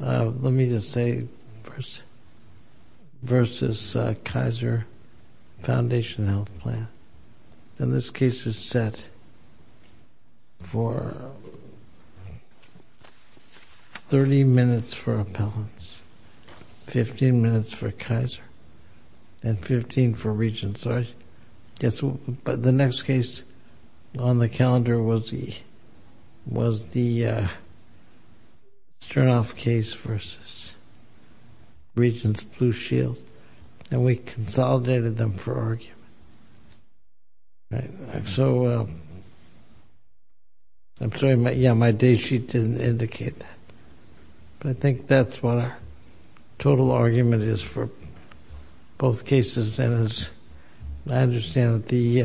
Let me just say, versus Kaiser Foundation Health Plan, and this case is set for 30 minutes for appellants, 15 minutes for Kaiser, and 15 for regents. But the next case on the calendar was the Sternhoff case versus Regents Blue Shield, and we consolidated them for argument. So, I'm sorry, yeah, my day sheet didn't indicate that. But I think that's what our total argument is for both cases, and I understand that the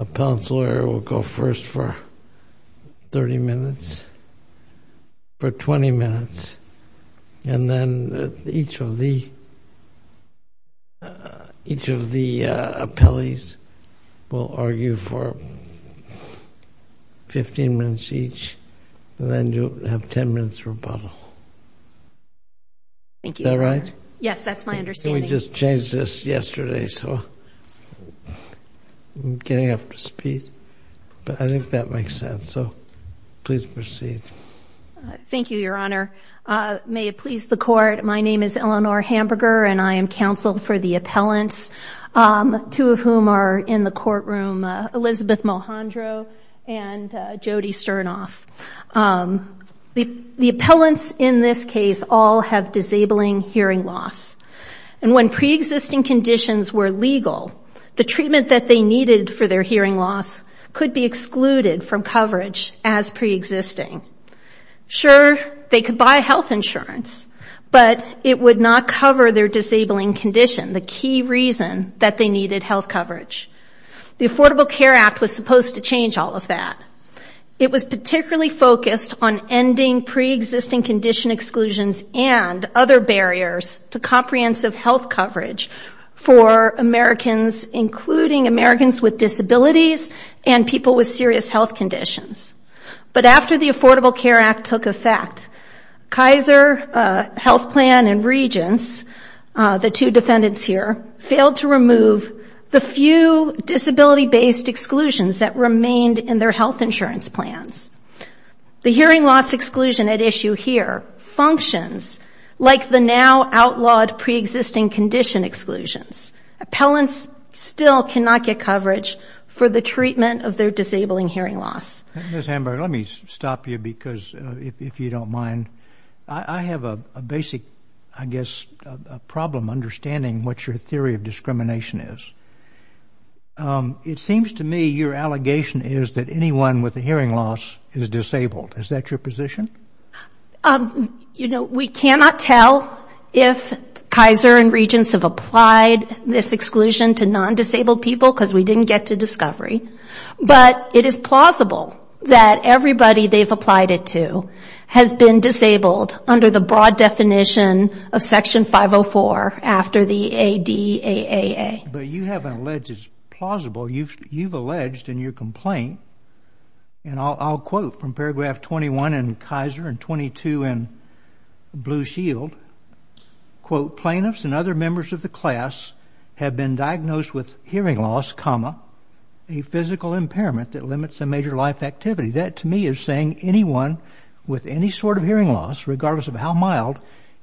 appellant's lawyer will go first for 30 minutes, for 20 minutes, and then each of the appellees will argue for 15 minutes each, and then you'll have 10 minutes rebuttal. Thank you, Your Honor. Is that right? Yes, that's my understanding. We just changed this yesterday, so I'm getting up to speed. But I think that makes sense, so please proceed. Thank you, Your Honor. May it please the Court, my name is Eleanor Hamburger, and I am counsel for the appellants, two of whom are in the courtroom, Elizabeth Mohandro and Jody Sternhoff. The appellants in this case all have disabling hearing loss, and when preexisting conditions were legal, the treatment that they needed for their hearing loss could be excluded from coverage as preexisting. Sure, they could buy health insurance, but it would not cover their disabling condition. The key reason that they needed health coverage. The Affordable Care Act was supposed to change all of that. It was particularly focused on ending preexisting condition exclusions and other barriers to comprehensive health coverage for Americans, including Americans with disabilities and people with serious health conditions. But after the Affordable Care Act took effect, Kaiser Health Plan and Regence, the two defendants here, failed to remove the few disability-based exclusions that remained in their health insurance plans. The hearing loss exclusion at issue here functions like the now outlawed preexisting condition exclusions. Appellants still cannot get coverage for the treatment of their disabling hearing loss. Ms. Hamburger, let me stop you because, if you don't mind, I have a basic, I guess, problem understanding what your theory of discrimination is. It seems to me your allegation is that anyone with a hearing loss is disabled. Is that your position? You know, we cannot tell if Kaiser and Regence have applied this exclusion to non-disabled people because we didn't get to discovery, but it is plausible that everybody they've applied it to has been disabled under the broad definition of Section 504 after the ADAAA. But you haven't alleged it's plausible. You've alleged in your complaint, and I'll quote from paragraph 21 in Kaiser and 22 in Blue Shield, quote, plaintiffs and other members of the class have been diagnosed with hearing loss, comma, a physical impairment that limits a major life activity. That, to me, is saying anyone with any sort of hearing loss, regardless of how mild,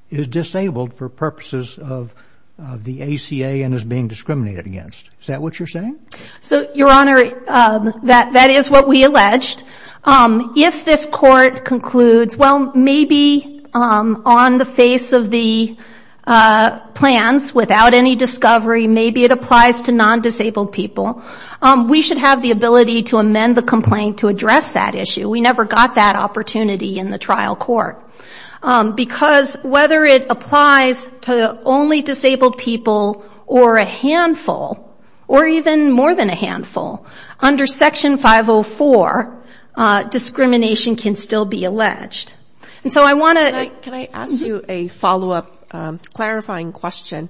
is disabled for purposes of the ACA and is being discriminated against. Is that what you're saying? So, Your Honor, that is what we alleged. If this court concludes, well, maybe on the face of the plans, without any discovery, maybe it applies to non-disabled people, we should have the ability to amend the complaint to address that issue. We never got that opportunity in the trial court. Because whether it applies to only disabled people or a handful, or even more than a handful, under Section 504, discrimination can still be alleged. And so I want to... Can I ask you a follow-up clarifying question?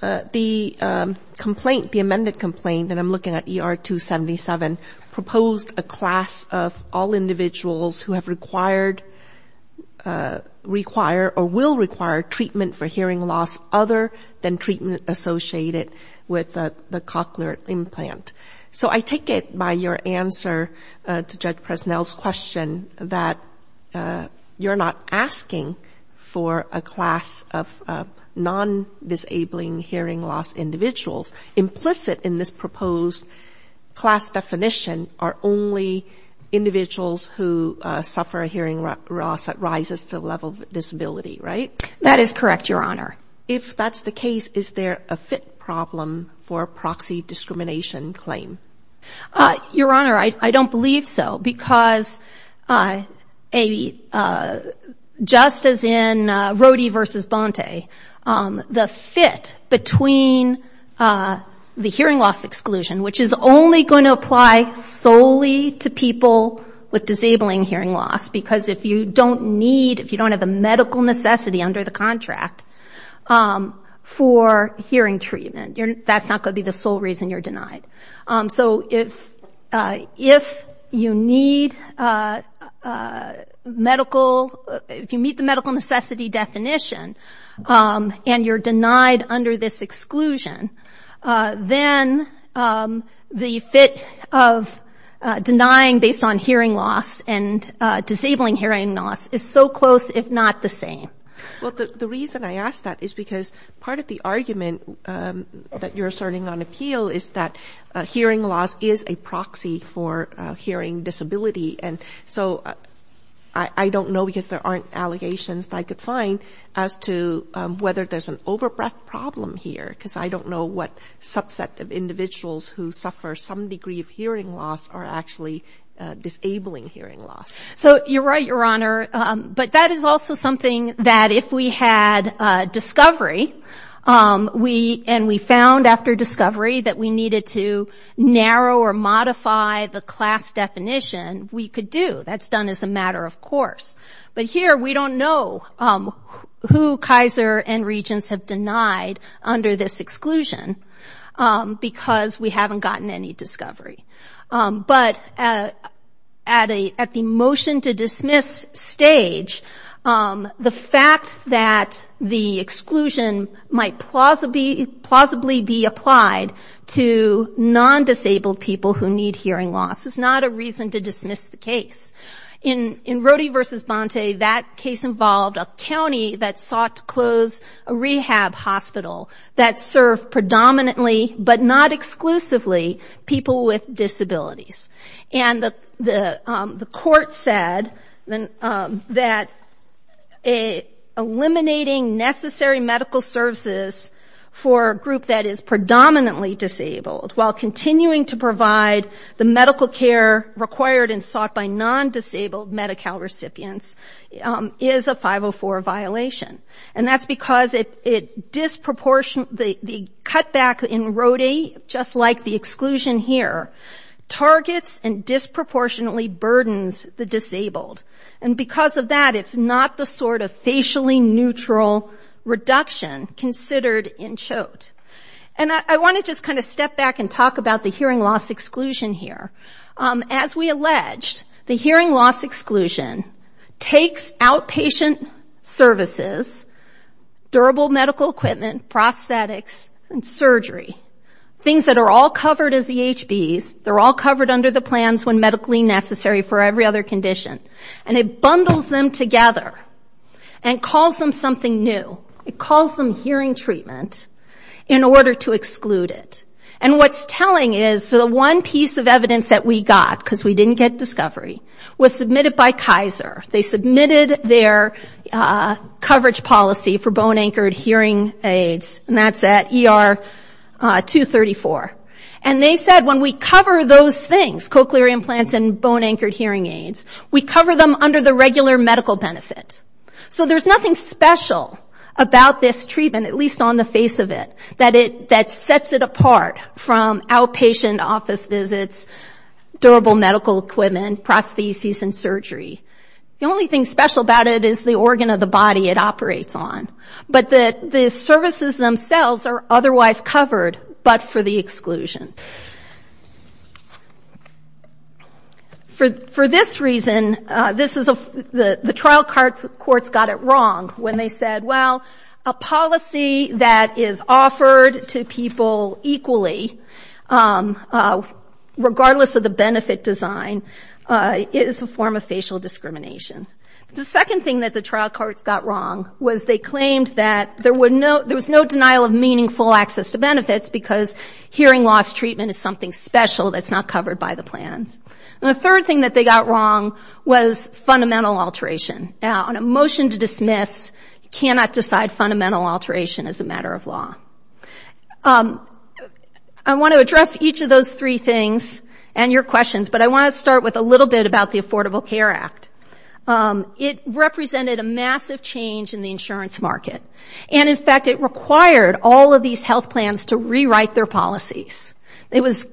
The complaint, the amended complaint, and I'm looking at ER 277, proposed a class of all individuals who have required, require, or will require treatment for hearing loss other than treatment associated with the cochlear implant. So I take it by your answer to Judge Presnell's question that you're not asking for a class of non-disabling hearing loss individuals. Implicit in this proposed class definition are only individuals who suffer a hearing loss that rises to the level of disability, right? That is correct, Your Honor. If that's the case, is there a fit problem for a proxy discrimination claim? Your Honor, I don't believe so. Because just as in Rohde v. Bonte, the fit between the hearing loss exclusion, which is only going to apply solely to people with disabling hearing loss, because if you don't need, if you don't have the medical necessity under the contract for hearing treatment, that's not going to be the sole reason you're denied. So if you need medical... If you meet the medical necessity definition and you're denied under this exclusion, then the fit of denying based on hearing loss and disabling hearing loss is so close, if not the same. Well, the reason I ask that is because part of the argument that you're asserting on appeal is that hearing loss is a proxy for hearing disability. And so I don't know because there aren't allegations that I could find as to whether there's an over-breath problem here because I don't know what subset of individuals who suffer some degree of hearing loss are actually disabling hearing loss. So you're right, Your Honor, but that is also something that if we had discovery and we found after discovery that we needed to narrow or modify the class definition, we could do. That's done as a matter of course. But here we don't know who Kaiser and regents have denied under this exclusion because we haven't gotten any discovery. But at the motion to dismiss stage, the fact that the exclusion might plausibly be applied to non-disabled people who need hearing loss is not a reason to dismiss the case. In Rody v. Bonte, that case involved a county that sought to close a rehab hospital that served predominantly, but not exclusively, people with disabilities. And the court said that eliminating necessary medical services for a group that is predominantly disabled while continuing to provide the medical care required and sought by non-disabled Medi-Cal recipients is a 504 violation. And that's because the cutback in Rody, just like the exclusion here, targets and disproportionately burdens the disabled. And because of that, it's not the sort of facially neutral reduction considered in Choate. And I want to just kind of step back and talk about the hearing loss exclusion here. As we alleged, the hearing loss exclusion takes outpatient services, durable medical equipment, prosthetics and surgery, things that are all covered as EHBs, they're all covered under the plans when medically necessary for every other condition, and it bundles them together and calls them something new. It calls them hearing treatment in order to exclude it. And what's telling is the one piece of evidence that we got, because we didn't get discovery, was submitted by Kaiser. They submitted their coverage policy for bone-anchored hearing aids, and that's at ER 234. And they said when we cover those things, cochlear implants and bone-anchored hearing aids, we cover them under the regular medical benefit. So there's nothing special about this treatment, at least on the face of it, that sets it apart from outpatient office visits, durable medical equipment, prostheses and surgery. The only thing special about it is the organ of the body it operates on. But the services themselves are otherwise covered, but for the exclusion. For this reason, the trial courts got it wrong when they said, well, a policy that is offered to people equally, regardless of the benefit design, is a form of facial discrimination. The second thing that the trial courts got wrong was they claimed that there was no denial of meaningful access to benefits, because hearing loss treatment is something special that's not covered by the plans. And the third thing that they got wrong was fundamental alteration. Now, on a motion to dismiss, you cannot decide fundamental alteration as a matter of law. I want to address each of those three things and your questions, but I want to start with a little bit about the Affordable Care Act. It represented a massive change in the insurance market, and in fact it required all of these health plans to rewrite their policies. It was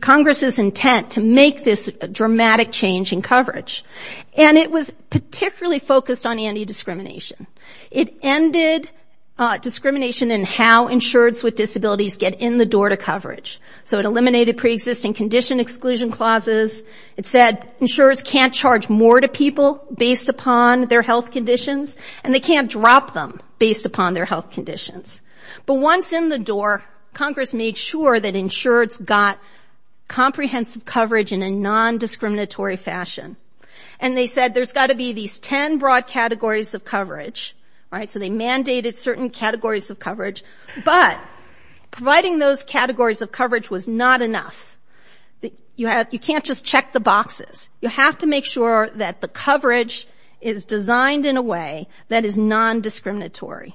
Congress's intent to make this dramatic change in coverage. And it was particularly focused on anti-discrimination. It ended discrimination in how insureds with disabilities get in the door to coverage. So it eliminated preexisting condition exclusion clauses. It said insurers can't charge more to people based upon their health conditions, and they can't drop them based upon their health conditions. But once in the door, Congress made sure that insureds got comprehensive coverage in a non-discriminatory fashion. And they said there's got to be these 10 broad categories of coverage. So they mandated certain categories of coverage, but providing those categories of coverage was not enough. You can't just check the boxes. You have to make sure that the coverage is designed in a way that is non-discriminatory.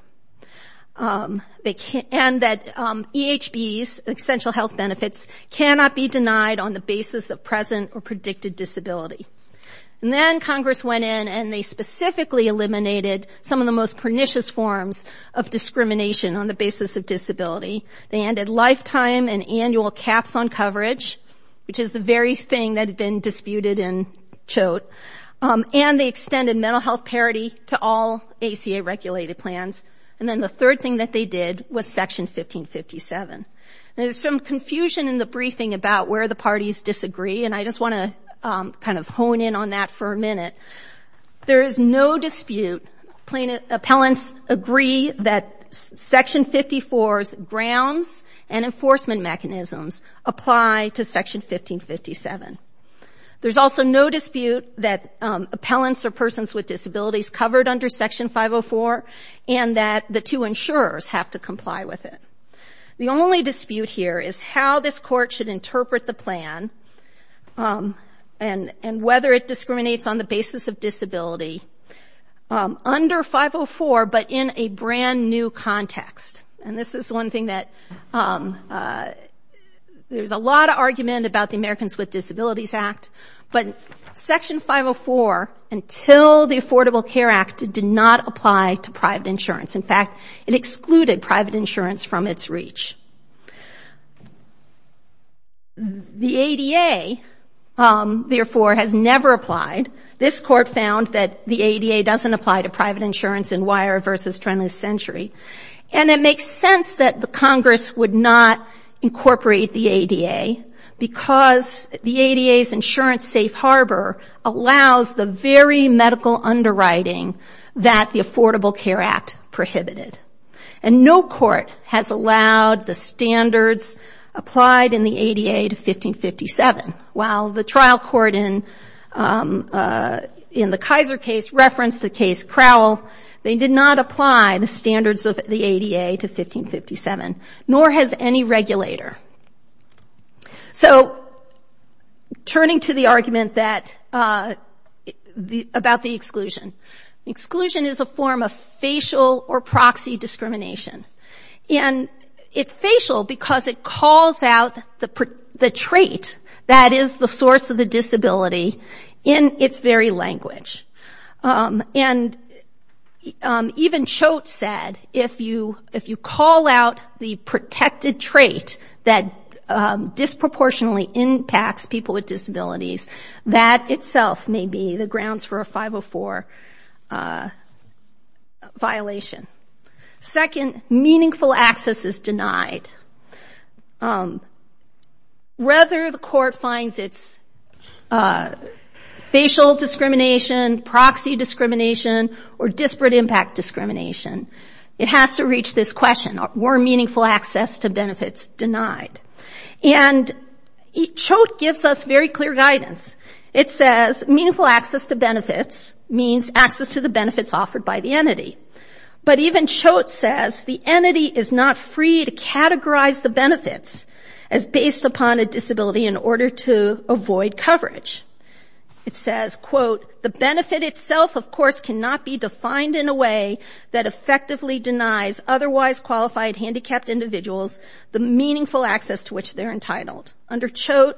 And that EHBs, essential health benefits, cannot be denied on the basis of present or predicted disability. And then Congress went in and they specifically eliminated some of the most pernicious forms of discrimination on the basis of disability. They ended lifetime and annual caps on coverage, which is the very thing that had been disputed in Choate. And they extended mental health parity to all ACA-regulated plans. And then the third thing that they did was Section 1557. And there's some confusion in the briefing about where the parties disagree, and I just want to kind of hone in on that for a minute. There is no dispute. Appellants agree that Section 54's grounds and enforcement mechanisms apply to Section 1557. There's also no dispute that appellants are persons with disabilities covered under Section 504, and that the two insurers have to comply with it. The only dispute here is how this Court should interpret the plan, and whether it discriminates on the basis of disability under 504, but in a brand-new context. There's a lot of argument about the Americans with Disabilities Act, but Section 504, until the Affordable Care Act, did not apply to private insurance. In fact, it excluded private insurance from its reach. The ADA, therefore, has never applied. This Court found that the ADA doesn't apply to private insurance in Weyer v. 20th Century. And it makes sense that the Congress would not incorporate the ADA, because the ADA's insurance safe harbor allows the very medical underwriting that the Affordable Care Act prohibited. And no court has allowed the standards applied in the ADA to 1557. While the trial court in the Kaiser case referenced the case Crowell, they did not apply the standards of the ADA to 1557. Nor has any regulator. So, turning to the argument about the exclusion. Exclusion is a form of facial or proxy discrimination. And it's facial because it calls out the trait that is the source of the disability in its very language. And even Choate said, if you call out the protected trait that disproportionately impacts people with disabilities, that itself may be the grounds for a 504 violation. Second, meaningful access is denied. Rather, the Court finds it's facial discrimination, proxy discrimination, or disparate impact discrimination. It has to reach this question, were meaningful access to benefits denied? And Choate gives us very clear guidance. It says meaningful access to benefits means access to the benefits offered by the entity. But even Choate says the entity is not free to categorize the benefits as based upon a disability in order to avoid coverage. It says, quote, the benefit itself, of course, cannot be defined in a way that effectively denies otherwise qualified handicapped individuals the meaningful access to which they're entitled. Under Choate,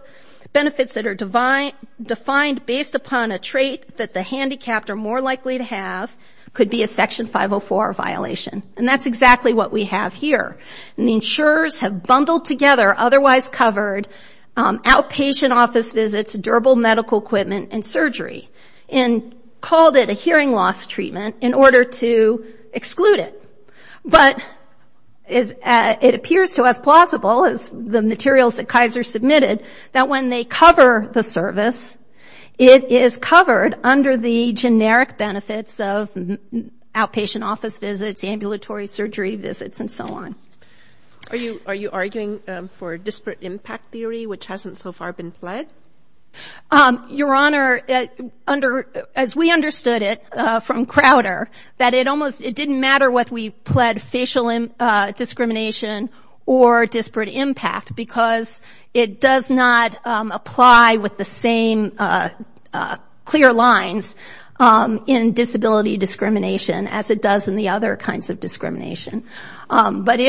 benefits that are defined based upon a trait that the handicapped are more likely to have could be a Section 504 violation. And that's exactly what we have here. And the insurers have bundled together otherwise covered outpatient office visits, durable medical equipment, and surgery and called it a hearing loss treatment in order to exclude it. But it appears to us plausible, as the materials that Kaiser submitted, that when they cover the service, it is covered under the generic benefits of outpatient office visits, ambulatory surgery visits, and so on. Are you arguing for disparate impact theory, which hasn't so far been pled? Your Honor, as we understood it from Crowder, that it almost, it didn't matter whether we pled facial discrimination or disparate impact, because it does not apply with the same clear lines in disability discrimination as it does in the other kinds of discrimination. But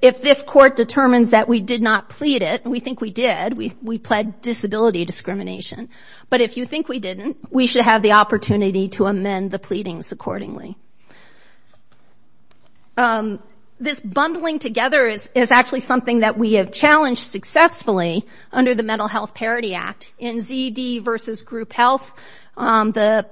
if this Court determines that we did not plead it, and we think we did, we pled disability discrimination. But if you think we didn't, we should have the opportunity to amend the pleadings accordingly. This bundling together is actually something that we have challenged successfully under the Mental Health Parity Act. In ZD versus Group Health, the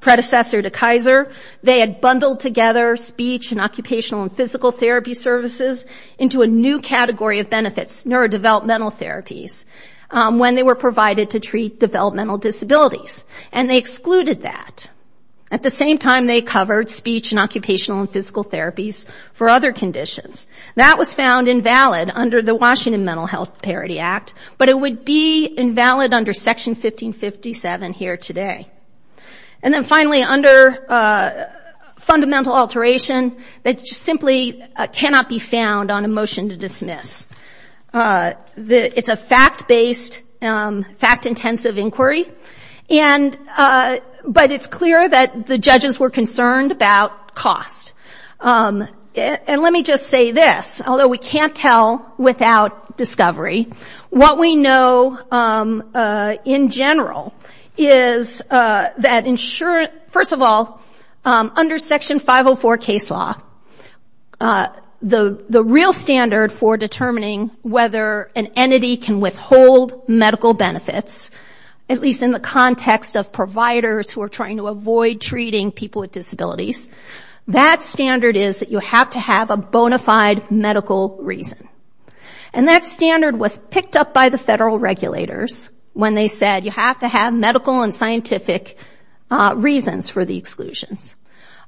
predecessor to Kaiser, they had bundled together speech and occupational and physical therapy services into a new category of benefits, neurodevelopmental therapies, when they were provided to treat developmental disabilities. And they excluded that. At the same time, they covered speech and occupational and physical therapies for other conditions. That was found invalid under the Washington Mental Health Parity Act, but it would be invalid under Section 1557 here today. And then finally, under fundamental alteration that simply cannot be found on a motion to dismiss. It's a fact-based, fact-intensive inquiry, but it's clear that the judges were concerned about cost. And let me just say this, although we can't tell without discovery, what we know in general is that insurance, first of all, under Section 504 case law, the real standard for determining whether an entity can withhold medical benefits, at least in the context of providers who are trying to avoid treating people with disabilities, that standard is that you have to have a bona fide medical reason. And that standard was picked up by the federal regulators when they said you have to have medical and scientific reasons for the exclusions.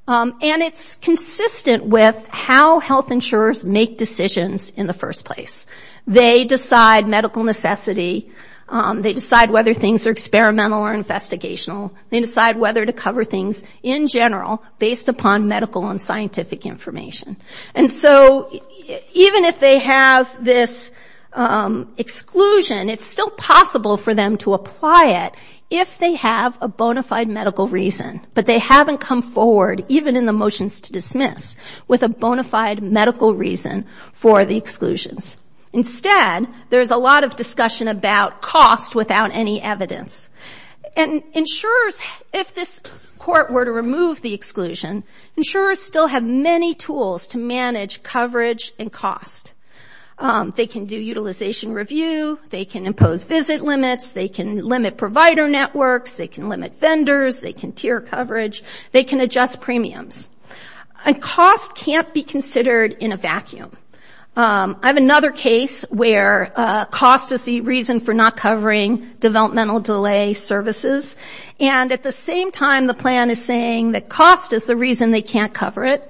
And it's consistent with how health insurers make decisions in the first place. They decide medical necessity, they decide whether things are experimental or investigational, they decide whether to cover things in general based upon medical and scientific information. And so even if they have this exclusion, it's still possible for them to apply it if they have a bona fide medical reason, but they haven't come forward, even in the motions to dismiss, with a bona fide medical reason for the exclusions. Instead, there's a lot of discussion about cost without any evidence. And insurers, if this court were to remove the exclusion, insurers still have many tools to manage coverage and cost. They can do utilization review, they can impose visit limits, they can limit provider networks, they can limit vendors, they can tier coverage, they can adjust premiums. And cost can't be considered in a vacuum. I have another case where cost is the reason for not covering developmental delay services, and at the same time the plan is saying that cost is the reason they can't cover it,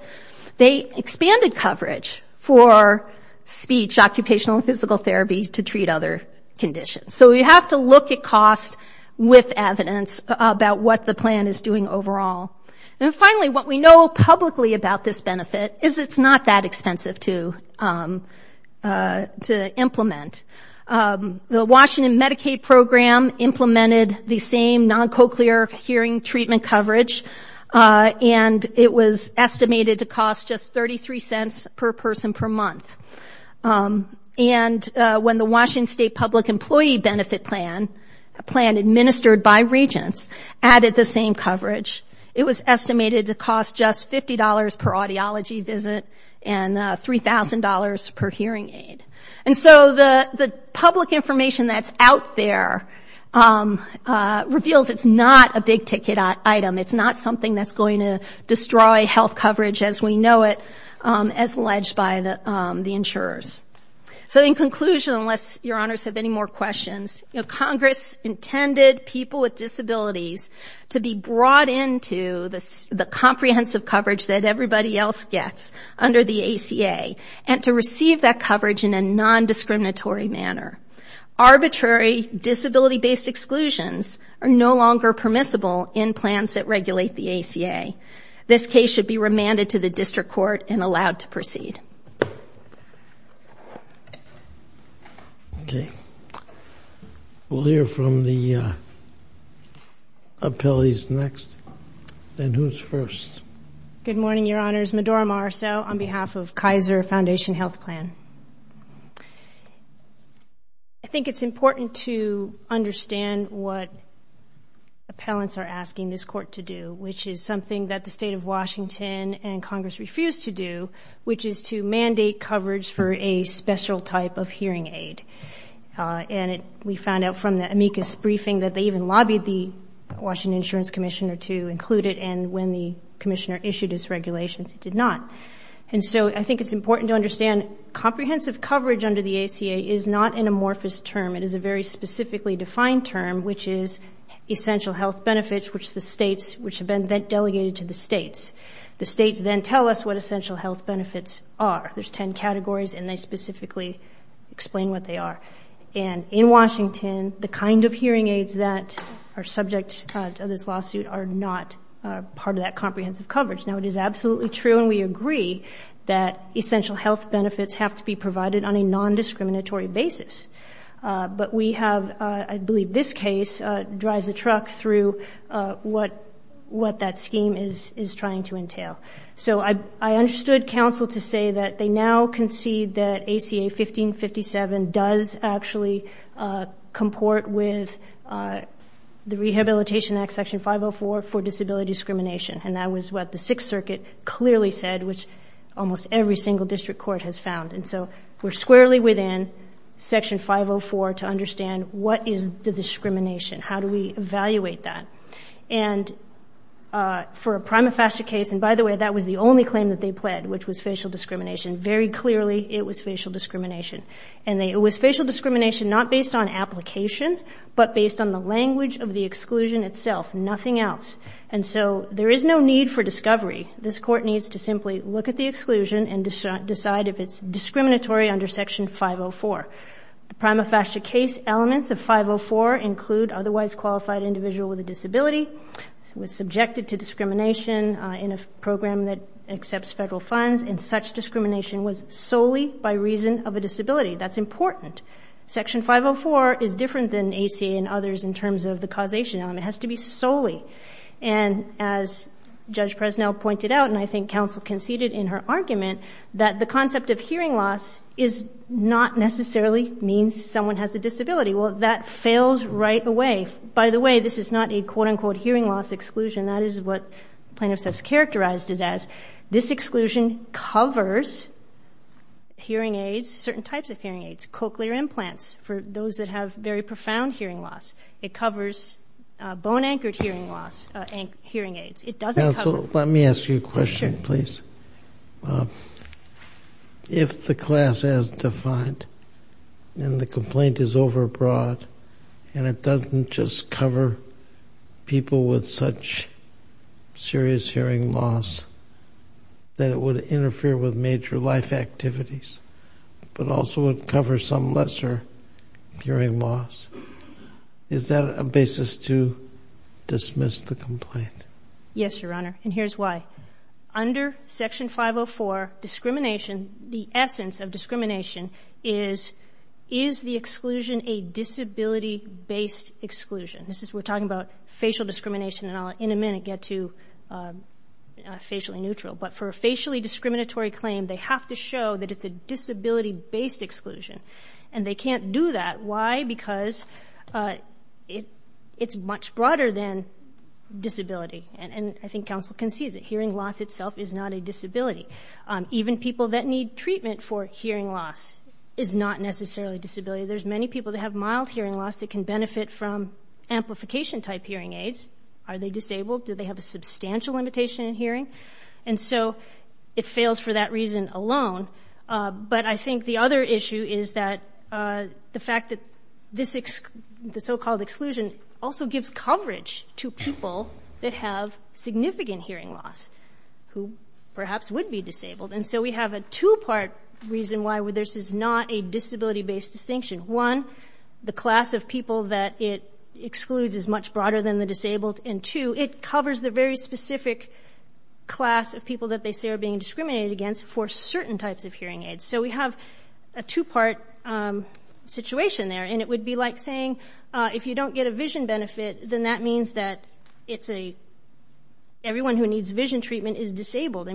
they expanded coverage for speech, occupational and physical therapy to treat other conditions. So we have to look at cost with evidence about what the plan is doing overall. And finally, what we know publicly about this benefit is it's not that expensive to implement. The Washington Medicaid program implemented the same non-cochlear hearing treatment coverage, and it was estimated to cost just 33 cents per person per month. And when the Washington State Public Employee Benefit Plan, administered by regents, added the same coverage, it was estimated to cost just $50 per audiology visit and $3,000 per hearing aid. And so the public information that's out there reveals it's not a big ticket item. It's not something that's going to destroy health coverage as we know it, as alleged by the insurers. So in conclusion, unless your honors have any more questions, Congress intended people with disabilities to be brought into the comprehensive coverage that everybody else gets under the ACA, and to receive that coverage in a non-discriminatory manner. Arbitrary disability-based exclusions are no longer permissible in plans that regulate the ACA. This case should be remanded to the district court and allowed to proceed. We'll hear from the appellees next, and who's first? Good morning, your honors. Medora Marceau on behalf of Kaiser Foundation Health Plan. I think it's important to understand what appellants are asking this court to do, which is something that the state of Washington and Congress refuse to do, which is to mandate coverage for a special type of hearing aid. And we found out from the amicus briefing that they even lobbied the Washington insurance commissioner to include it, and when the commissioner issued his regulations, he did not. And so I think it's important to understand comprehensive coverage under the ACA is not an amorphous term. It is a very specifically defined term, which is essential health benefits, which have been delegated to the states. The states then tell us what essential health benefits are. There's ten categories, and they specifically explain what they are. And in Washington, the kind of hearing aids that are subject to this lawsuit are not part of that comprehensive coverage. Now, it is absolutely true, and we agree that essential health benefits have to be provided on a nondiscriminatory basis. But we have, I believe this case drives the truck through what that scheme is trying to entail. So I understood counsel to say that they now concede that ACA 1557 does actually comport with the Rehabilitation Act Section 504 for disability discrimination, and that was what the Sixth Circuit clearly said, which almost every single district court has found. And so we're squarely within Section 504 to understand what is the discrimination. How do we evaluate that? And for a prima facie case, and by the way, that was the only claim that they pled, which was facial discrimination. Very clearly, it was facial discrimination. And it was facial discrimination not based on application, but based on the language of the exclusion itself, nothing else. And so there is no need for discovery. This Court needs to simply look at the exclusion and decide if it's discriminatory under Section 504. The prima facie case elements of 504 include otherwise qualified individual with a disability, was subjected to discrimination in a program that accepts federal funds, and such discrimination was solely by reason of a disability. That's important. Section 504 is different than ACA and others in terms of the causation element. It has to be solely. And as Judge Presnell pointed out, and I think counsel conceded in her argument, that the concept of hearing loss is not necessarily means someone has a disability. Well, that fails right away. By the way, this is not a quote-unquote hearing loss exclusion. That is what plaintiffs have characterized it as. This exclusion covers hearing aids, certain types of hearing aids, cochlear implants for those that have very profound hearing loss. It covers bone-anchored hearing aids. Let me ask you a question, please. If the class as defined and the complaint is overbroad and it doesn't just cover people with such serious hearing loss that it would interfere with major life activities, but also would cover some lesser hearing loss, is that a basis to dismiss the complaint? Yes, Your Honor, and here's why. Under Section 504, the essence of discrimination is, is the exclusion a disability-based exclusion? We're talking about facial discrimination, and I'll in a minute get to facially neutral. But for a facially discriminatory claim, they have to show that it's a disability-based exclusion. And they can't do that. Why? Because it's much broader than disability. And I think counsel concedes that hearing loss itself is not a disability. Even people that need treatment for hearing loss is not necessarily a disability. There's many people that have mild hearing loss that can benefit from amplification-type hearing aids. Are they disabled? Do they have a substantial limitation in hearing? And so it fails for that reason alone. But I think the other issue is that the fact that the so-called exclusion also gives coverage to people that have significant hearing loss who perhaps would be disabled. And so we have a two-part reason why this is not a disability-based distinction. One, the class of people that it excludes is much broader than the disabled, and two, it covers the very specific class of people that they say are being discriminated against for certain types of hearing aids. So we have a two-part situation there. And it would be like saying, if you don't get a vision benefit, then that means that everyone who needs vision treatment is disabled.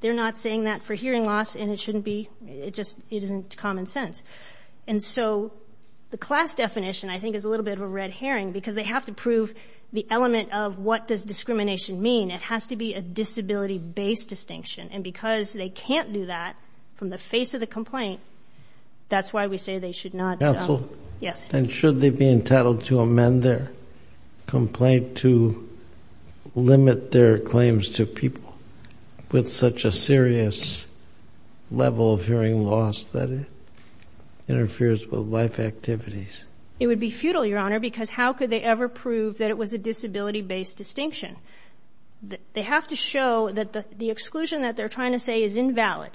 They're not saying that for hearing loss, and it isn't common sense. And so the class definition, I think, is a little bit of a red herring, because they have to prove the element of what does discrimination mean. It has to be a disability-based distinction. And because they can't do that from the face of the complaint, that's why we say they should not. Counsel? Yes. And should they be entitled to amend their complaint to limit their claims to people with such a serious level of hearing loss that it interferes with life activities? It would be futile, Your Honor, because how could they ever prove that it was a disability-based distinction? They have to show that the exclusion that they're trying to say is invalid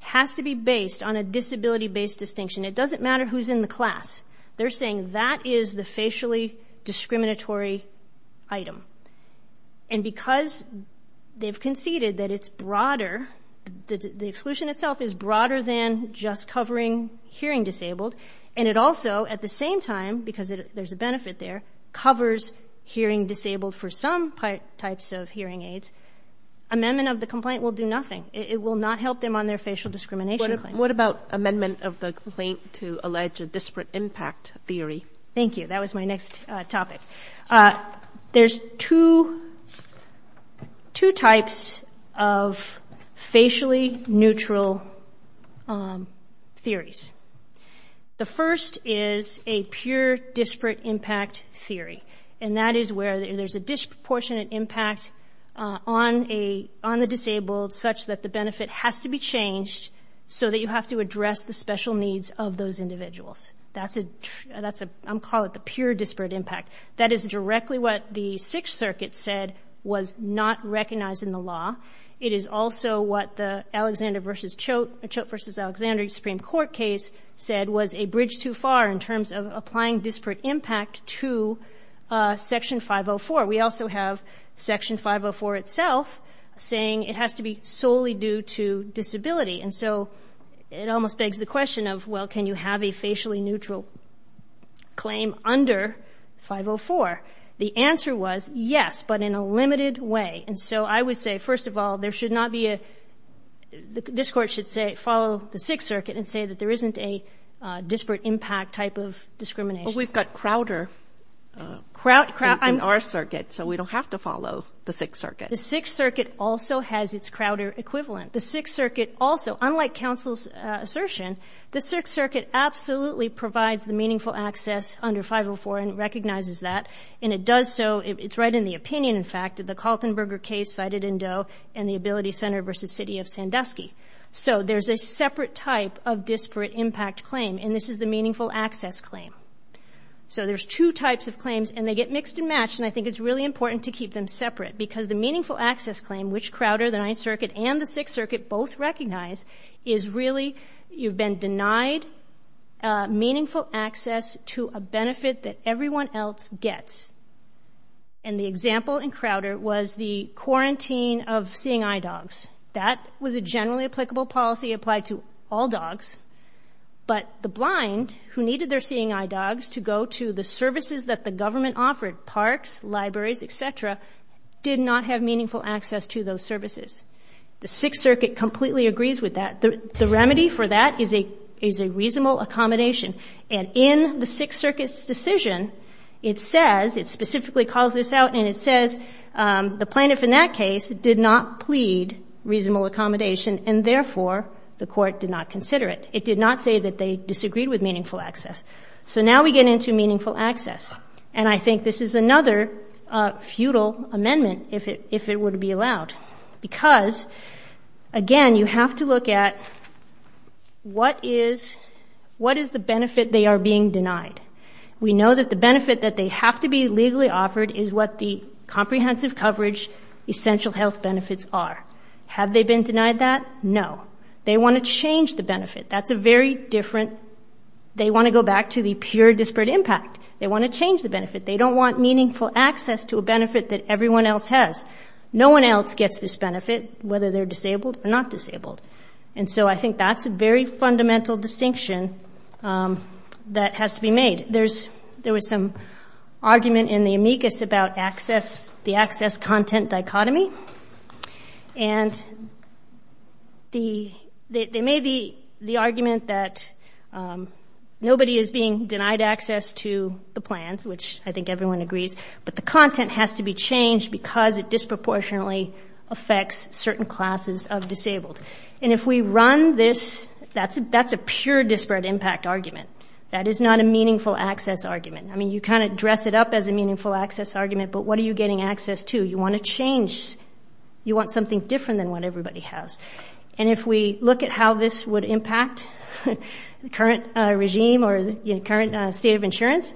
has to be based on a disability-based distinction. It doesn't matter who's in the class. They're saying that is the facially discriminatory item. And because they've conceded that it's broader, the exclusion itself is broader than just covering hearing disabled, and it also, at the same time, because there's a benefit there, covers hearing disabled for some types of hearing aids, amendment of the complaint will do nothing. It will not help them on their facial discrimination claim. And what about amendment of the complaint to allege a disparate impact theory? Thank you. That was my next topic. There's two types of facially neutral theories. The first is a pure disparate impact theory, and that is where there's a disproportionate impact on the disabled such that the benefit has to be changed so that you have to address the special needs of those individuals. That's a, I'll call it the pure disparate impact. That is directly what the Sixth Circuit said was not recognized in the law. It is also what the Alexander v. Choate, Choate v. Alexandria Supreme Court case said was a bridge too far in terms of applying disparate impact to Section 504. We also have Section 504 itself saying it has to be solely due to disability. And so it almost begs the question of, well, can you have a facially neutral claim under 504? The answer was yes, but in a limited way. And so I would say, first of all, there should not be a, this Court should say follow the Sixth Circuit and say that there isn't a disparate impact type of discrimination. But we've got Crowder in our circuit, so we don't have to follow the Sixth Circuit. The Sixth Circuit also has its Crowder equivalent. The Sixth Circuit also, unlike counsel's assertion, the Sixth Circuit absolutely provides the meaningful access under 504 and recognizes that, and it does so, it's right in the opinion, in fact, of the Kaltenberger case cited in Doe and the Ability Center v. City of Sandusky. So there's a separate type of disparate impact claim, and this is the meaningful access claim. So there's two types of claims, and they get mixed and matched, and I think it's really important to keep them separate because the meaningful access claim, which Crowder, the Ninth Circuit, and the Sixth Circuit both recognize, is really you've been denied meaningful access to a benefit that everyone else gets. And the example in Crowder was the quarantine of seeing eye dogs. That was a generally applicable policy applied to all dogs, but the blind who needed their seeing eye dogs to go to the services that the government offered, parks, libraries, et cetera, did not have meaningful access to those services. The Sixth Circuit completely agrees with that. The remedy for that is a reasonable accommodation, and in the Sixth Circuit's decision, it says, it specifically calls this out, and it says the plaintiff in that case did not plead reasonable accommodation, and therefore the court did not consider it. It did not say that they disagreed with meaningful access. So now we get into meaningful access, and I think this is another futile amendment if it would be allowed because, again, you have to look at what is the benefit they are being denied. We know that the benefit that they have to be legally offered is what the comprehensive coverage essential health benefits are. Have they been denied that? No. They want to change the benefit. That's a very different, they want to go back to the pure disparate impact. They want to change the benefit. They don't want meaningful access to a benefit that everyone else has. No one else gets this benefit, whether they're disabled or not disabled. And so I think that's a very fundamental distinction that has to be made. There was some argument in the amicus about the access-content dichotomy, and there may be the argument that nobody is being denied access to the plans, which I think everyone agrees, but the content has to be changed because it disproportionately affects certain classes of disabled. And if we run this, that's a pure disparate impact argument. That is not a meaningful access argument. I mean, you kind of dress it up as a meaningful access argument, but what are you getting access to? You want to change, you want something different than what everybody has. And if we look at how this would impact the current regime or the current state of insurance,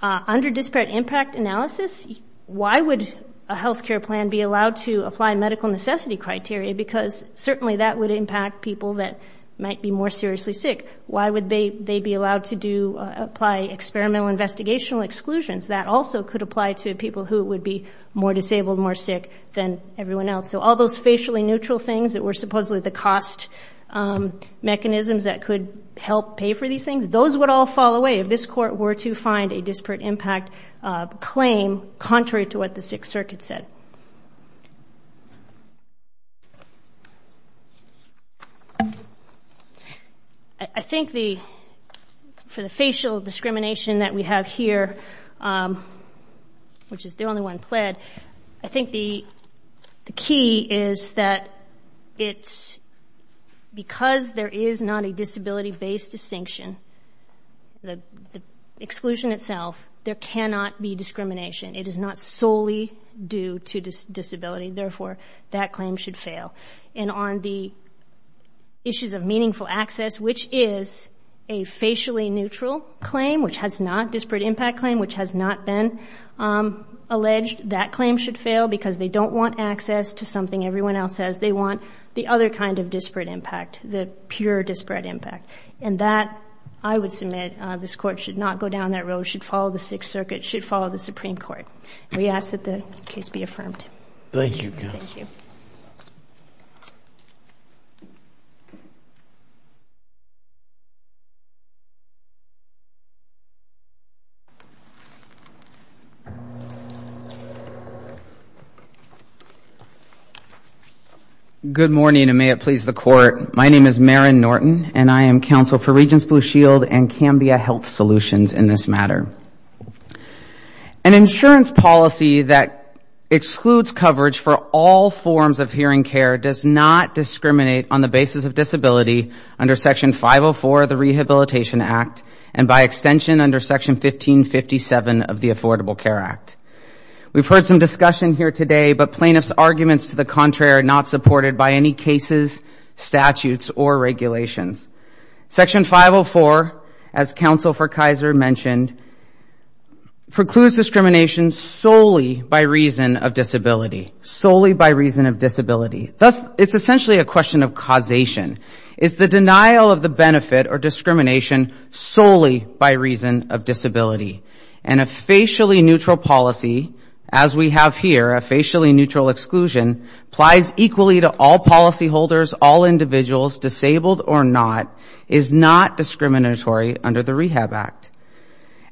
under disparate impact analysis, why would a health care plan be allowed to apply medical necessity criteria? Because certainly that would impact people that might be more seriously sick. Why would they be allowed to apply experimental investigational exclusions? That also could apply to people who would be more disabled, more sick than everyone else. So all those facially neutral things that were supposedly the cost mechanisms that could help pay for these things, those would all fall away if this court were to find a disparate impact claim contrary to what the Sixth Circuit said. I think for the facial discrimination that we have here, which is the only one pled, I think the key is that because there is not a disability-based distinction, the exclusion itself, there cannot be discrimination. It is not solely due to disability. Therefore, that claim should fail. And on the issues of meaningful access, which is a facially neutral claim, which has not disparate impact claim, which has not been alleged, that claim should fail because they don't want access to something everyone else has. They want the other kind of disparate impact, the pure disparate impact. And that, I would submit, this Court should not go down that road, should follow the Sixth Circuit, should follow the Supreme Court. We ask that the case be affirmed. Good morning, and may it please the Court. My name is Maren Norton, and I am counsel for Regents Blue Shield and Cambia Health Solutions in this matter. An insurance policy that excludes coverage for all forms of hearing care does not discriminate on the basis of disability under Section 504 of the Rehabilitation Act, and by extension under Section 1557 of the Affordable Care Act. We've heard some discussion here today, but plaintiff's arguments to the contrary are not supported by any cases, statutes, or regulations. Section 504, as counsel for Kaiser mentioned, precludes discrimination solely by reason of disability. Solely by reason of disability. Thus, it's essentially a question of causation. Is the denial of the benefit or discrimination solely by reason of disability? And a facially neutral policy, as we have here, a facially neutral exclusion, applies equally to all policyholders, all individuals, disabled or not, is not discriminatory under the Rehab Act.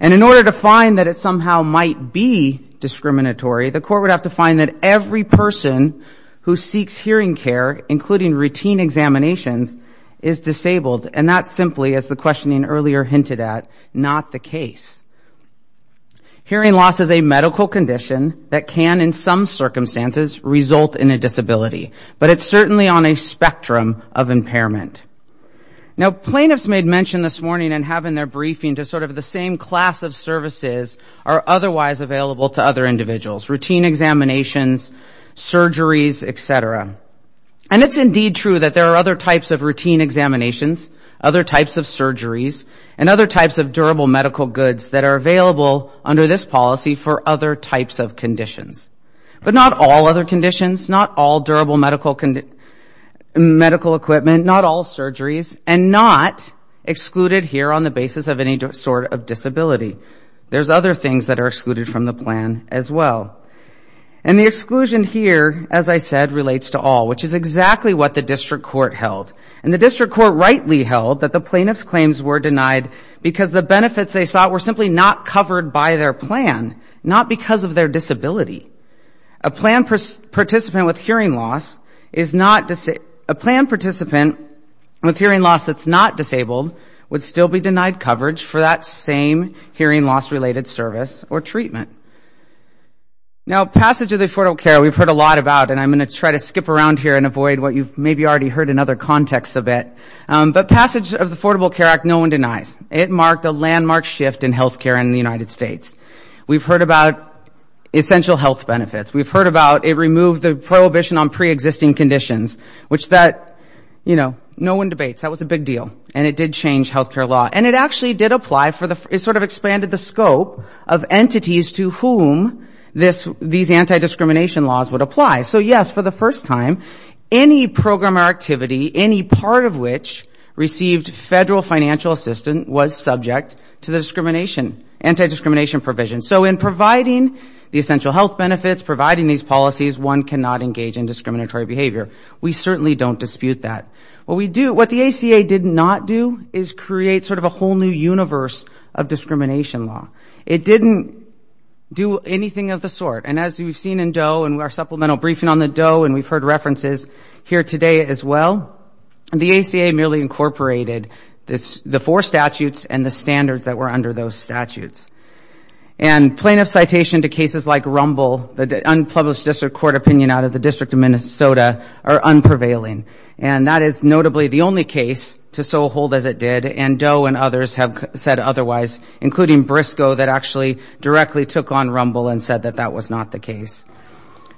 And in order to find that it somehow might be discriminatory, the Court would have to find that every person who seeks hearing care, including routine examinations, is disabled. And that's simply, as the questioning earlier hinted at, not the case. Hearing loss is a medical condition that can, in some circumstances, result in a disability. But it's certainly on a spectrum of impairment. Now, plaintiffs may have mentioned this morning and have in their briefing just sort of the same class of services are otherwise available to other individuals, routine examinations, surgeries, et cetera. And it's indeed true that there are other types of routine examinations, other types of surgeries, and other types of durable medical goods available under this policy for other types of conditions. But not all other conditions, not all durable medical equipment, not all surgeries, and not excluded here on the basis of any sort of disability. There's other things that are excluded from the plan as well. And the exclusion here, as I said, relates to all, which is exactly what the district court held. And the district court rightly held that the plaintiff's claims were denied because the benefits they sought were simply not covered by their plan, not because of their disability. A plan participant with hearing loss that's not disabled would still be denied coverage for that same hearing loss-related service or treatment. Now, passage of the Affordable Care Act, we've heard a lot about, and I'm going to try to skip around here and avoid what you've maybe already heard in other contexts a bit, but passage of the Affordable Care Act, no one denies. It marked a landmark shift in health care in the United States. We've heard about essential health benefits. We've heard about it removed the prohibition on preexisting conditions, which that, you know, no one debates. That was a big deal. And it did change health care law. And it actually did apply for the, it sort of expanded the scope of entities to whom this, these anti-discrimination laws would apply. So, yes, for the first time, any program or activity, any part of which received federal financial assistance was subject to the discrimination, anti-discrimination provisions. So in providing the essential health benefits, providing these policies, one cannot engage in discriminatory behavior. We certainly don't dispute that. What we do, what the ACA did not do is create sort of a whole new universe of discrimination law. It didn't do anything of the sort. And as we've seen in Doe and our supplemental briefing on the Doe and we've heard references here today as well, the ACA merely incorporated the four statutes and the standards that were under those statutes. And plaintiff citation to cases like Rumble, the unpublished district court opinion out of the District of Minnesota are unprevailing. And that is notably the only case to so hold as it did, and Doe and others have said otherwise, including Briscoe that actually directly took on Rumble and said that that was not the case.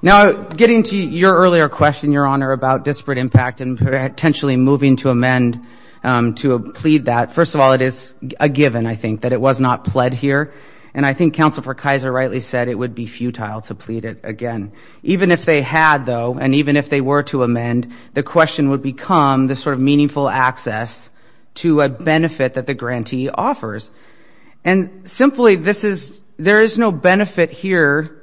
Now, getting to your earlier question, Your Honor, about disparate impact and potentially moving to amend to plead that, first of all, it is a given, I think, that it was not pled here. And I think Counsel for Kaiser rightly said it would be futile to plead it again. Even if they had, though, and even if they were to amend, the question would become the sort of meaningful access to a benefit that the grantee offers. And simply this is, there is no benefit here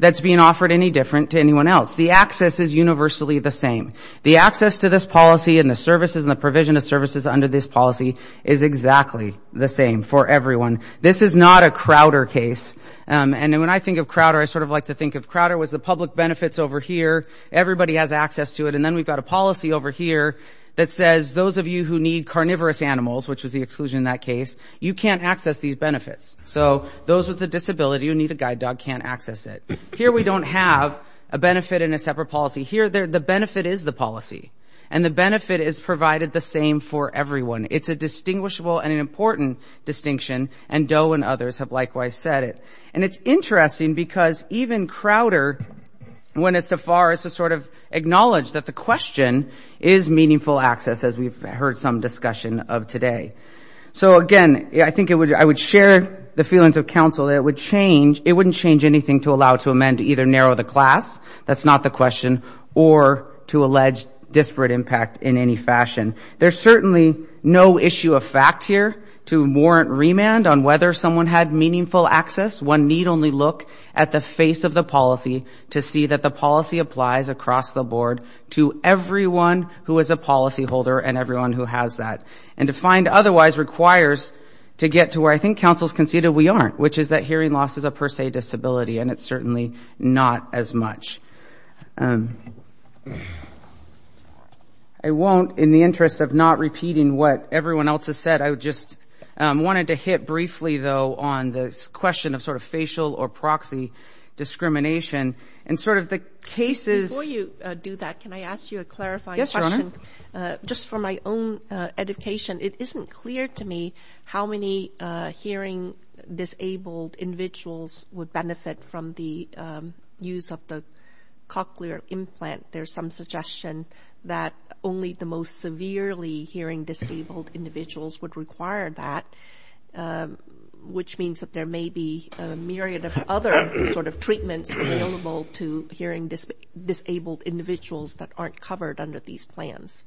that's being offered any different to anyone else. The access is universally the same. The access to this policy and the services and the provision of services under this policy is exactly the same for everyone. This is not a Crowder case. And when I think of Crowder, I sort of like to think of Crowder was the public benefits over here, everybody has access to it, and then we've got a policy over here that says those of you who need carnivorous animals, which was the exclusion in that case, you can't access these benefits. So those with a disability who need a guide dog can't access it. Here we don't have a benefit and a separate policy. Here the benefit is the policy. And the benefit is provided the same for everyone. It's a distinguishable and an important distinction, and Doe and others have likewise said it. And it's interesting because even Crowder, when it's too far, is to sort of acknowledge that the question is meaningful access, as we've heard some discussion of today. So again, I think it would, I would share the feelings of counsel that it would change, it wouldn't change anything to allow to amend either narrow the class, that's not the question, or to allege disparate impact in any fashion. There's certainly no issue of fact here to warrant remand on whether someone had meaningful access. One need only look at the face of the policy to see that the policy applies across the board to everyone who is a policyholder and everyone who has that and to find otherwise requires to get to where I think counsel's conceded we aren't, which is that hearing loss is a per se disability, and it's certainly not as much. I won't, in the interest of not repeating what everyone else has said, I just wanted to hit briefly, though, on this question of sort of facial or proxy discrimination and sort of the cases... For my own education, it isn't clear to me how many hearing disabled individuals would benefit from the use of the cochlear implant. There's some suggestion that only the most severely hearing disabled individuals would require that, which means that there may be a myriad of other sort of treatments available to hearing disabled individuals that aren't covered under these plans.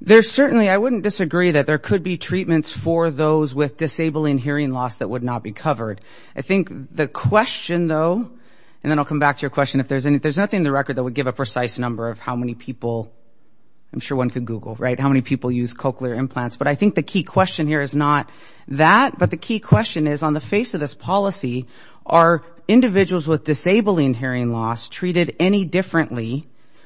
There's certainly, I wouldn't disagree that there could be treatments for those with disabling hearing loss that would not be covered. I think the question, though, and then I'll come back to your question, if there's nothing in the record that would give a precise number of how many people, I'm sure one could Google, right, how many people use cochlear implants, but I think the key question here is not that, but the key question is on the face of this policy, are individuals with disabling hearing loss treated any differently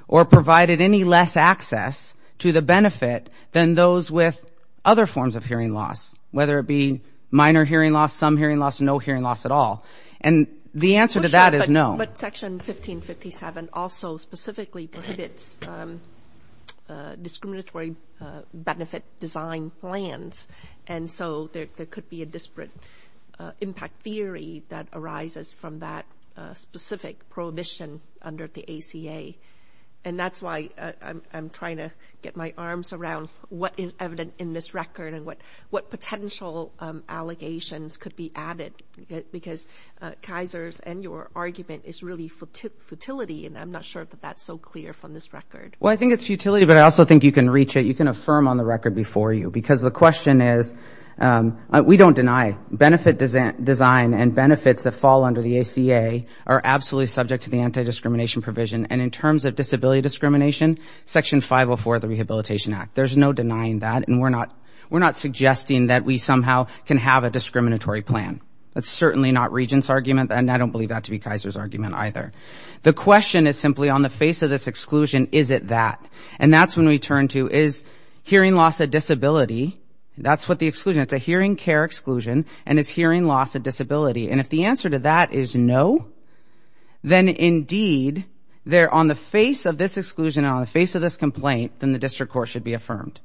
or provided any less access to the benefits of cochlear implants? And if so, how would that benefit than those with other forms of hearing loss, whether it be minor hearing loss, some hearing loss, no hearing loss at all? And the answer to that is no. But Section 1557 also specifically prohibits discriminatory benefit design plans, and so there could be a disparate impact theory that arises from that specific prohibition under the ACA. And that's why I'm trying to get my arms around this issue and get my arms around what is evident in this record and what potential allegations could be added, because Kaiser's and your argument is really futility, and I'm not sure that that's so clear from this record. Well, I think it's futility, but I also think you can reach it, you can affirm on the record before you, because the question is, we don't deny benefit design and benefits that fall under the ACA are absolutely subject to the anti-discrimination provision, and in fact, there's no denying that, and we're not suggesting that we somehow can have a discriminatory plan. That's certainly not Regent's argument, and I don't believe that to be Kaiser's argument either. The question is simply on the face of this exclusion, is it that? And that's when we turn to, is hearing loss a disability? That's what the exclusion, it's a hearing care exclusion, and is hearing loss a disability? And if the answer to that is no, then indeed, they're on the face of this exclusion, on the face of this complaint, then the question is, is it that?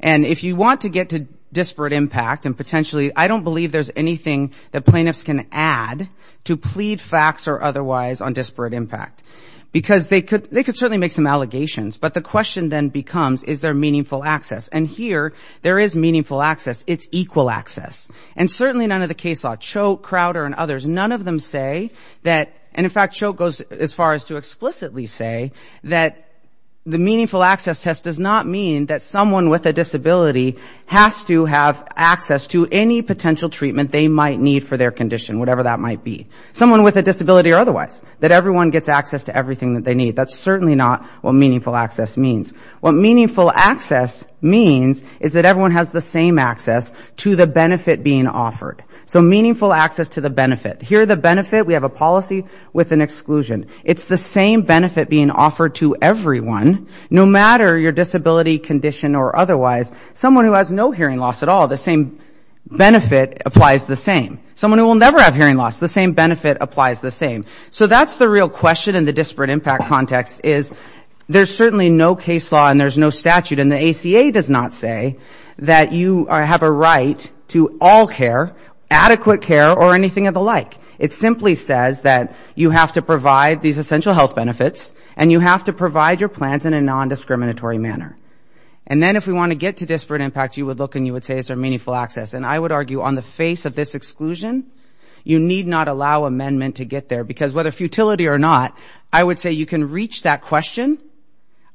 And if you want to get to disparate impact, and potentially, I don't believe there's anything that plaintiffs can add to plead facts or otherwise on disparate impact, because they could certainly make some allegations, but the question then becomes, is there meaningful access? And here, there is meaningful access, it's equal access. And certainly none of the case law, Choke, Crowder, and others, none of them say that, and in fact, Choke goes as far as to saying that someone with a disability has to have access to any potential treatment they might need for their condition, whatever that might be. Someone with a disability or otherwise, that everyone gets access to everything that they need, that's certainly not what meaningful access means. What meaningful access means is that everyone has the same access to the benefit being offered. So meaningful access to the benefit. Here the benefit, we have a policy with an exclusion. It's the same benefit being offered to everyone, no matter your disability condition or otherwise. Someone who has no hearing loss at all, the same benefit applies the same. Someone who will never have hearing loss, the same benefit applies the same. So that's the real question in the disparate impact context, is there's certainly no case law and there's no statute, and the ACA does not say that you have a right to all care, adequate care or anything of the like. It simply says that you have to provide these benefits in a non-discriminatory manner. And then if we want to get to disparate impact, you would look and you would say is there meaningful access. And I would argue on the face of this exclusion, you need not allow amendment to get there, because whether futility or not, I would say you can reach that question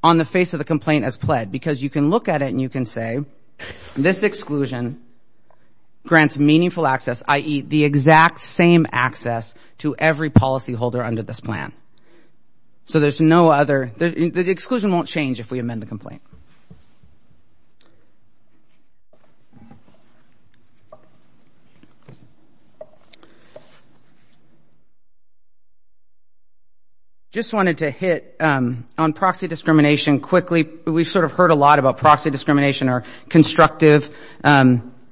on the face of the complaint as pled, because you can look at it and you can say, this exclusion grants meaningful access, i.e., the exact same access to every policyholder under this plan. So there's no other, the exclusion won't change. If we amend the complaint. Just wanted to hit on proxy discrimination quickly. We sort of heard a lot about proxy discrimination or constructive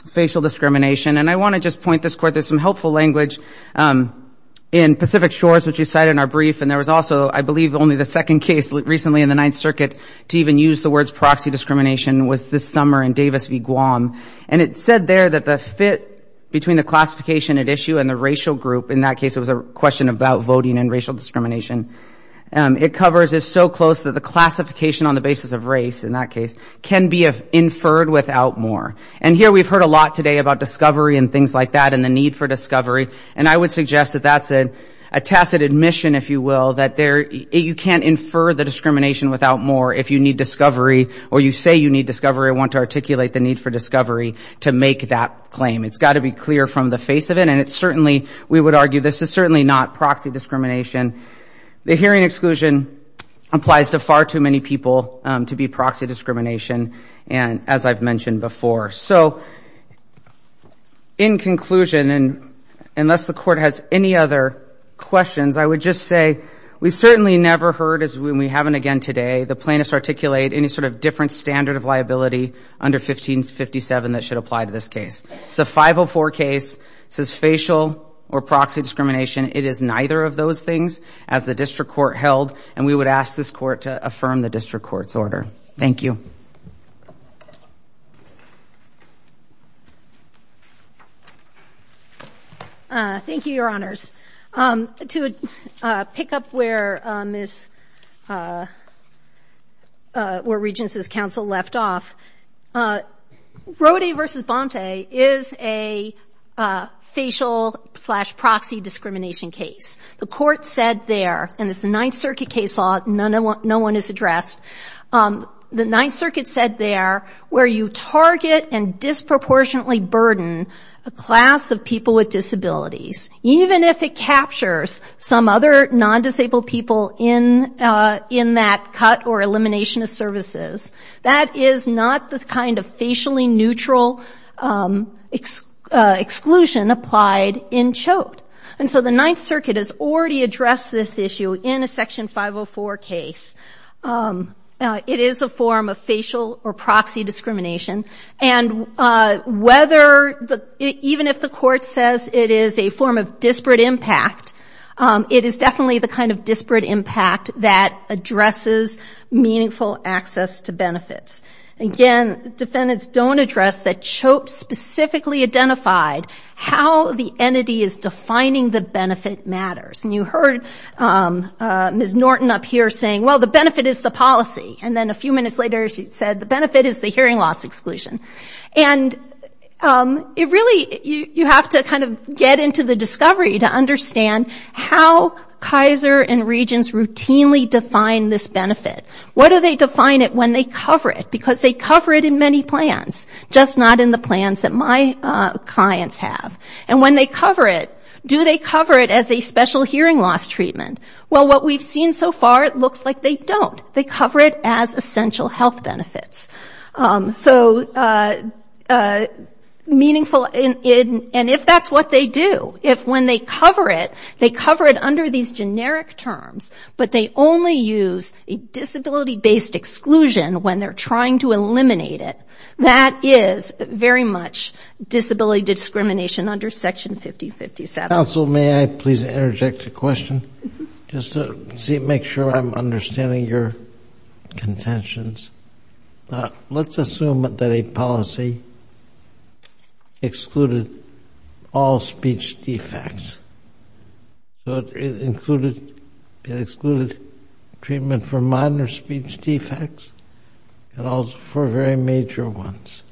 facial discrimination, and I want to just point this court, there's some helpful language in Pacific Shores, which you cited in our brief, and there was also I believe only the second case recently in the Ninth Circuit to even use the words proxy discrimination was this summer in Davis v. Guam. And it said there that the fit between the classification at issue and the racial group, in that case it was a question about voting and racial discrimination, it covers is so close that the classification on the basis of race, in that case, can be inferred without more. And here we've heard a lot today about discovery and things like that and the need for discovery, and I would suggest that that's a tacit admission, if you will, that there, you can't infer the discrimination without more if you need discovery or you say you need discovery or want to articulate the need for discovery to make that claim. It's got to be clear from the face of it, and it's certainly, we would argue this is certainly not proxy discrimination. The hearing exclusion applies to far too many people to be proxy discrimination, as I've mentioned before. So, in conclusion, and unless the Court has any other questions, I would just say we certainly never heard, as we haven't again today, the plaintiffs articulate any sort of different standard of liability under 1557 that should apply to this case. It's a 504 case, it says facial or proxy discrimination, it is neither of those things as the District Court held, and we would ask this Court to affirm the discrimination. Thank you. MS. GOTTLIEB. Thank you, Your Honors. To pick up where Regence's counsel left off, Rody v. Bonte is a facial-slash-proxy discrimination case. The Court said there, and it's the Ninth Circuit case law, no one is addressed, the Ninth Circuit case law said there, where you target and disproportionately burden a class of people with disabilities, even if it captures some other non-disabled people in that cut or elimination of services, that is not the kind of facially neutral exclusion applied in Chote. And so the Ninth Circuit has already addressed this issue in a Section 504 case. It is a form of facial-slash-proxy discrimination, and whether, even if the Court says it is a form of disparate impact, it is definitely the kind of disparate impact that addresses meaningful access to benefits. Again, defendants don't address that Chote specifically identified how the entity is defining the benefit matters. And you heard Ms. Bonte say the benefit is the policy, and then a few minutes later she said the benefit is the hearing loss exclusion. And it really, you have to kind of get into the discovery to understand how Kaiser and Regence routinely define this benefit. What do they define it when they cover it? Because they cover it in many plans, just not in the plans that my clients have. And when they cover it, do they cover it as a special hearing loss treatment? Well, what we've seen so far, it looks like they don't. They cover it as essential health benefits. So meaningful, and if that's what they do, if when they cover it, they cover it under these generic terms, but they only use a disability-based exclusion when they're trying to eliminate it, that is very much disability discrimination under Section 5057. Counsel, may I please interject a question? Just to make sure I'm understanding your contentions. Let's assume that a policy excluded all speech defects. So it excluded treatment for minor speech defects and also for very major ones.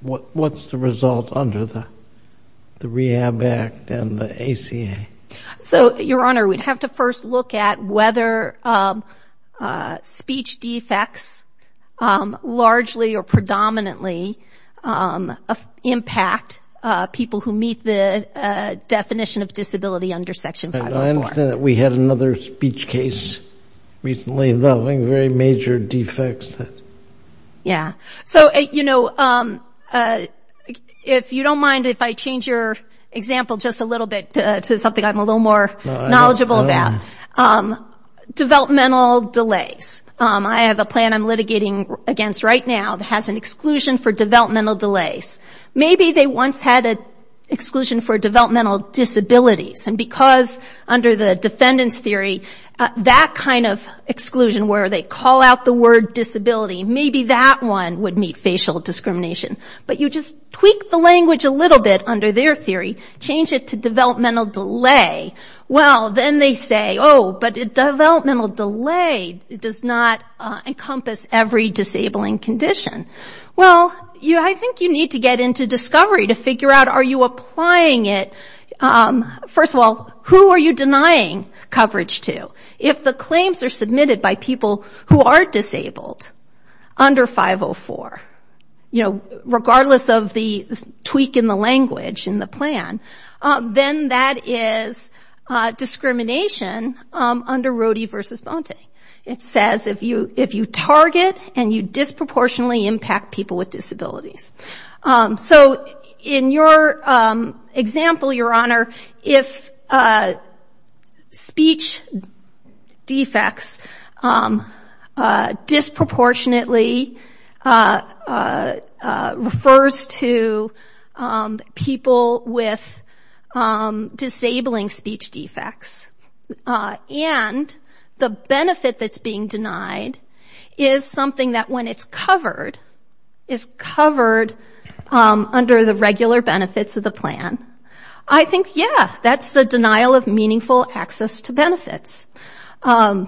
What's the result under the Rehab Act and the ACA? So, Your Honor, we'd have to first look at whether speech defects largely or predominantly impact people who meet the definition of disability under Section 504. I understand that we had another speech case recently involving very major defects. Yeah. So, you know, if you don't mind, if I change your example just a little bit to something I'm a little more knowledgeable about. Developmental delays. I have a plan I'm litigating against right now that has an exclusion for developmental delays. Maybe they once had an exclusion for developmental disabilities, and because under the defendant's theory, that kind of exclusion where they call out the word developmental delay, change it to developmental delay. Well, then they say, oh, but developmental delay does not encompass every disabling condition. Well, I think you need to get into discovery to figure out are you applying it. First of all, who are you denying coverage to? If the claims are submitted by people who are disabled under 504, you know, regardless of the tweak in the language, in the plan, then that is discrimination under Rody v. Bonte. It says if you target and you disproportionately impact people with disabilities. So, in your example, Your Honor, if speech defects disproportionately refers to developmental delays, then that is discrimination. People with disabling speech defects. And the benefit that's being denied is something that when it's covered, is covered under the regular benefits of the plan, I think, yeah, that's a denial of meaningful access to benefits. Let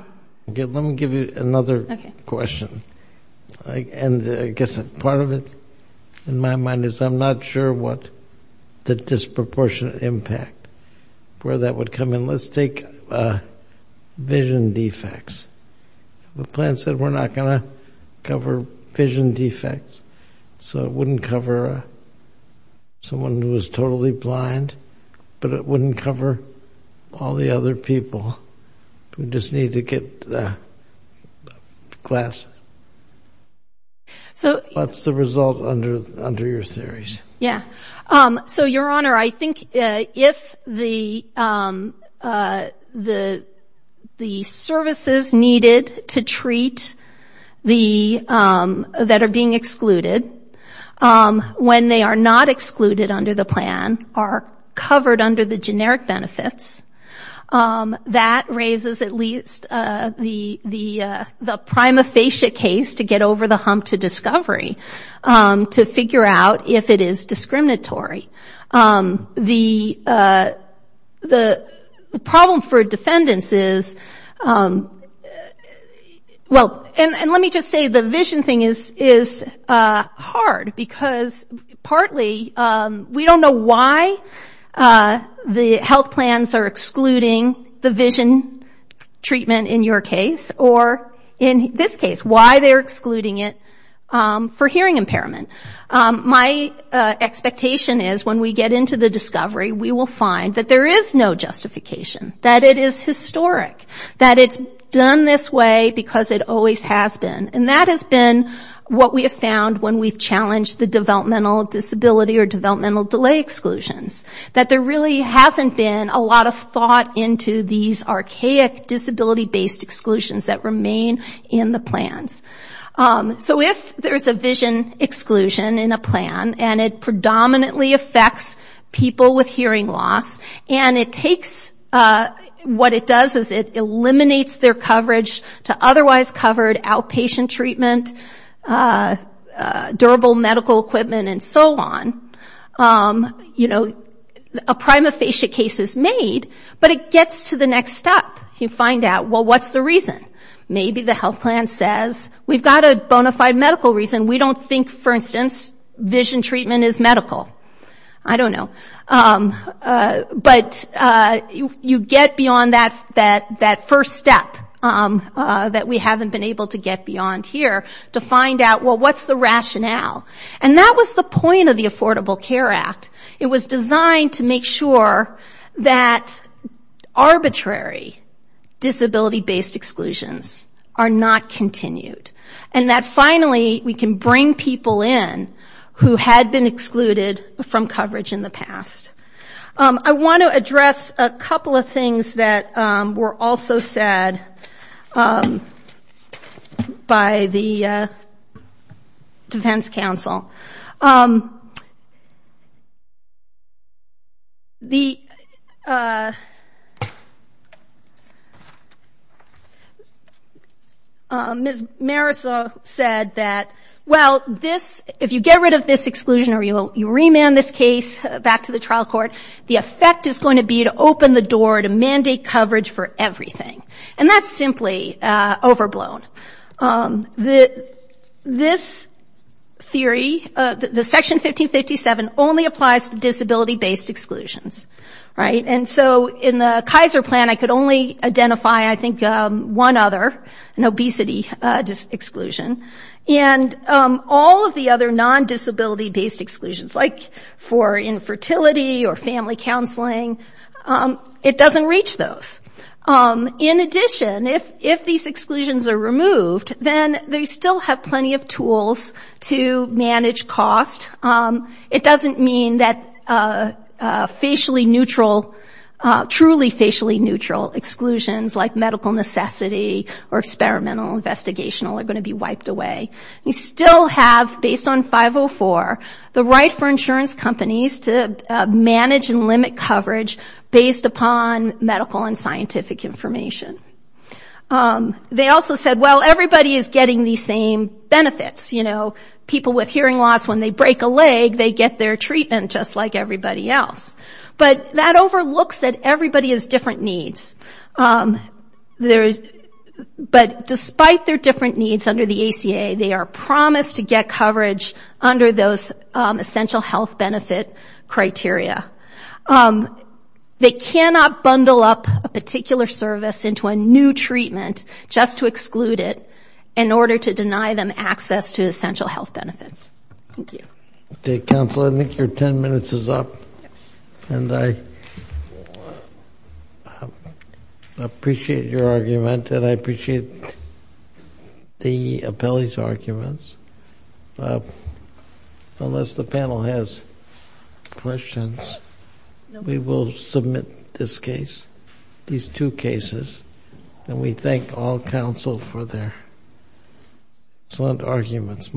me give you another question. And I guess part of it, in my mind, is I'm not sure what, you know, what the definition of the disproportionate impact, where that would come in. Let's take vision defects. The plan said we're not going to cover vision defects, so it wouldn't cover someone who is totally blind, but it wouldn't cover all the other people who just need to get glasses. What's the result under your theories? Yeah. So, Your Honor, I think if the services needed to treat the, that are being excluded, when they are not excluded under the plan, are covered under the generic benefits, that raises at least the prima facie case to get over the hump to discovery, to figure out if it is discriminatory. The problem for defendants is, well, and let me just say, the vision thing is hard, because partly, we don't know why the health plans are excluding the vision treatment in your case, or in this case, why they're excluding impairment. My expectation is when we get into the discovery, we will find that there is no justification, that it is historic, that it's done this way because it always has been. And that has been what we have found when we've challenged the developmental disability or developmental delay exclusions, that there really hasn't been a lot of thought into these archaic disability-based exclusions that remain in the plans. And it predominantly affects people with hearing loss, and it takes, what it does is, it eliminates their coverage to otherwise covered outpatient treatment, durable medical equipment, and so on. A prima facie case is made, but it gets to the next step. You find out, well, what's the reason? Maybe the health plan says, we've got a bona fide medical reason, we don't think for instance, vision treatment is medical. I don't know. But you get beyond that first step that we haven't been able to get beyond here, to find out, well, what's the rationale? And that was the point of the Affordable Care Act. It was designed to make sure that arbitrary disability-based exclusions are not continued, and that finally, we can bring people with vision people in, who had been excluded from coverage in the past. I want to address a couple of things that were also said by the defense counsel. Ms. Marisa said that, well, this is not a case, if you get rid of this exclusion, or you remand this case back to the trial court, the effect is going to be to open the door to mandate coverage for everything. And that's simply overblown. This theory, the Section 1557, only applies to disability-based exclusions, right? And so, in the Kaiser plan, I could only identify, I think, one other, an obesity exclusion. And all of the other non-disability-based exclusions, like for infertility or family counseling, it doesn't reach those. In addition, if these exclusions are removed, then they still have plenty of tools to manage cost. It doesn't mean that facially neutral, truly facially neutral exclusions, like medical necessity or experimental investigations, are going to be wiped away. You still have, based on 504, the right for insurance companies to manage and limit coverage based upon medical and scientific information. They also said, well, everybody is getting the same benefits. People with hearing loss, when they break a leg, they get their treatment just like everybody else. But that overlooks that everybody has different needs. But despite their different needs under the ACA, they are promised to get coverage under those essential health benefit criteria. They cannot bundle up a particular service into a new treatment just to exclude it, in order to deny them access to essential health benefits. Thank you. Counsel, I think your 10 minutes is up. And I appreciate your argument, and I appreciate the appellee's arguments. Unless the panel has questions, we will submit this case, these two cases, and we thank all counsel for their excellent arguments. Thank you very much.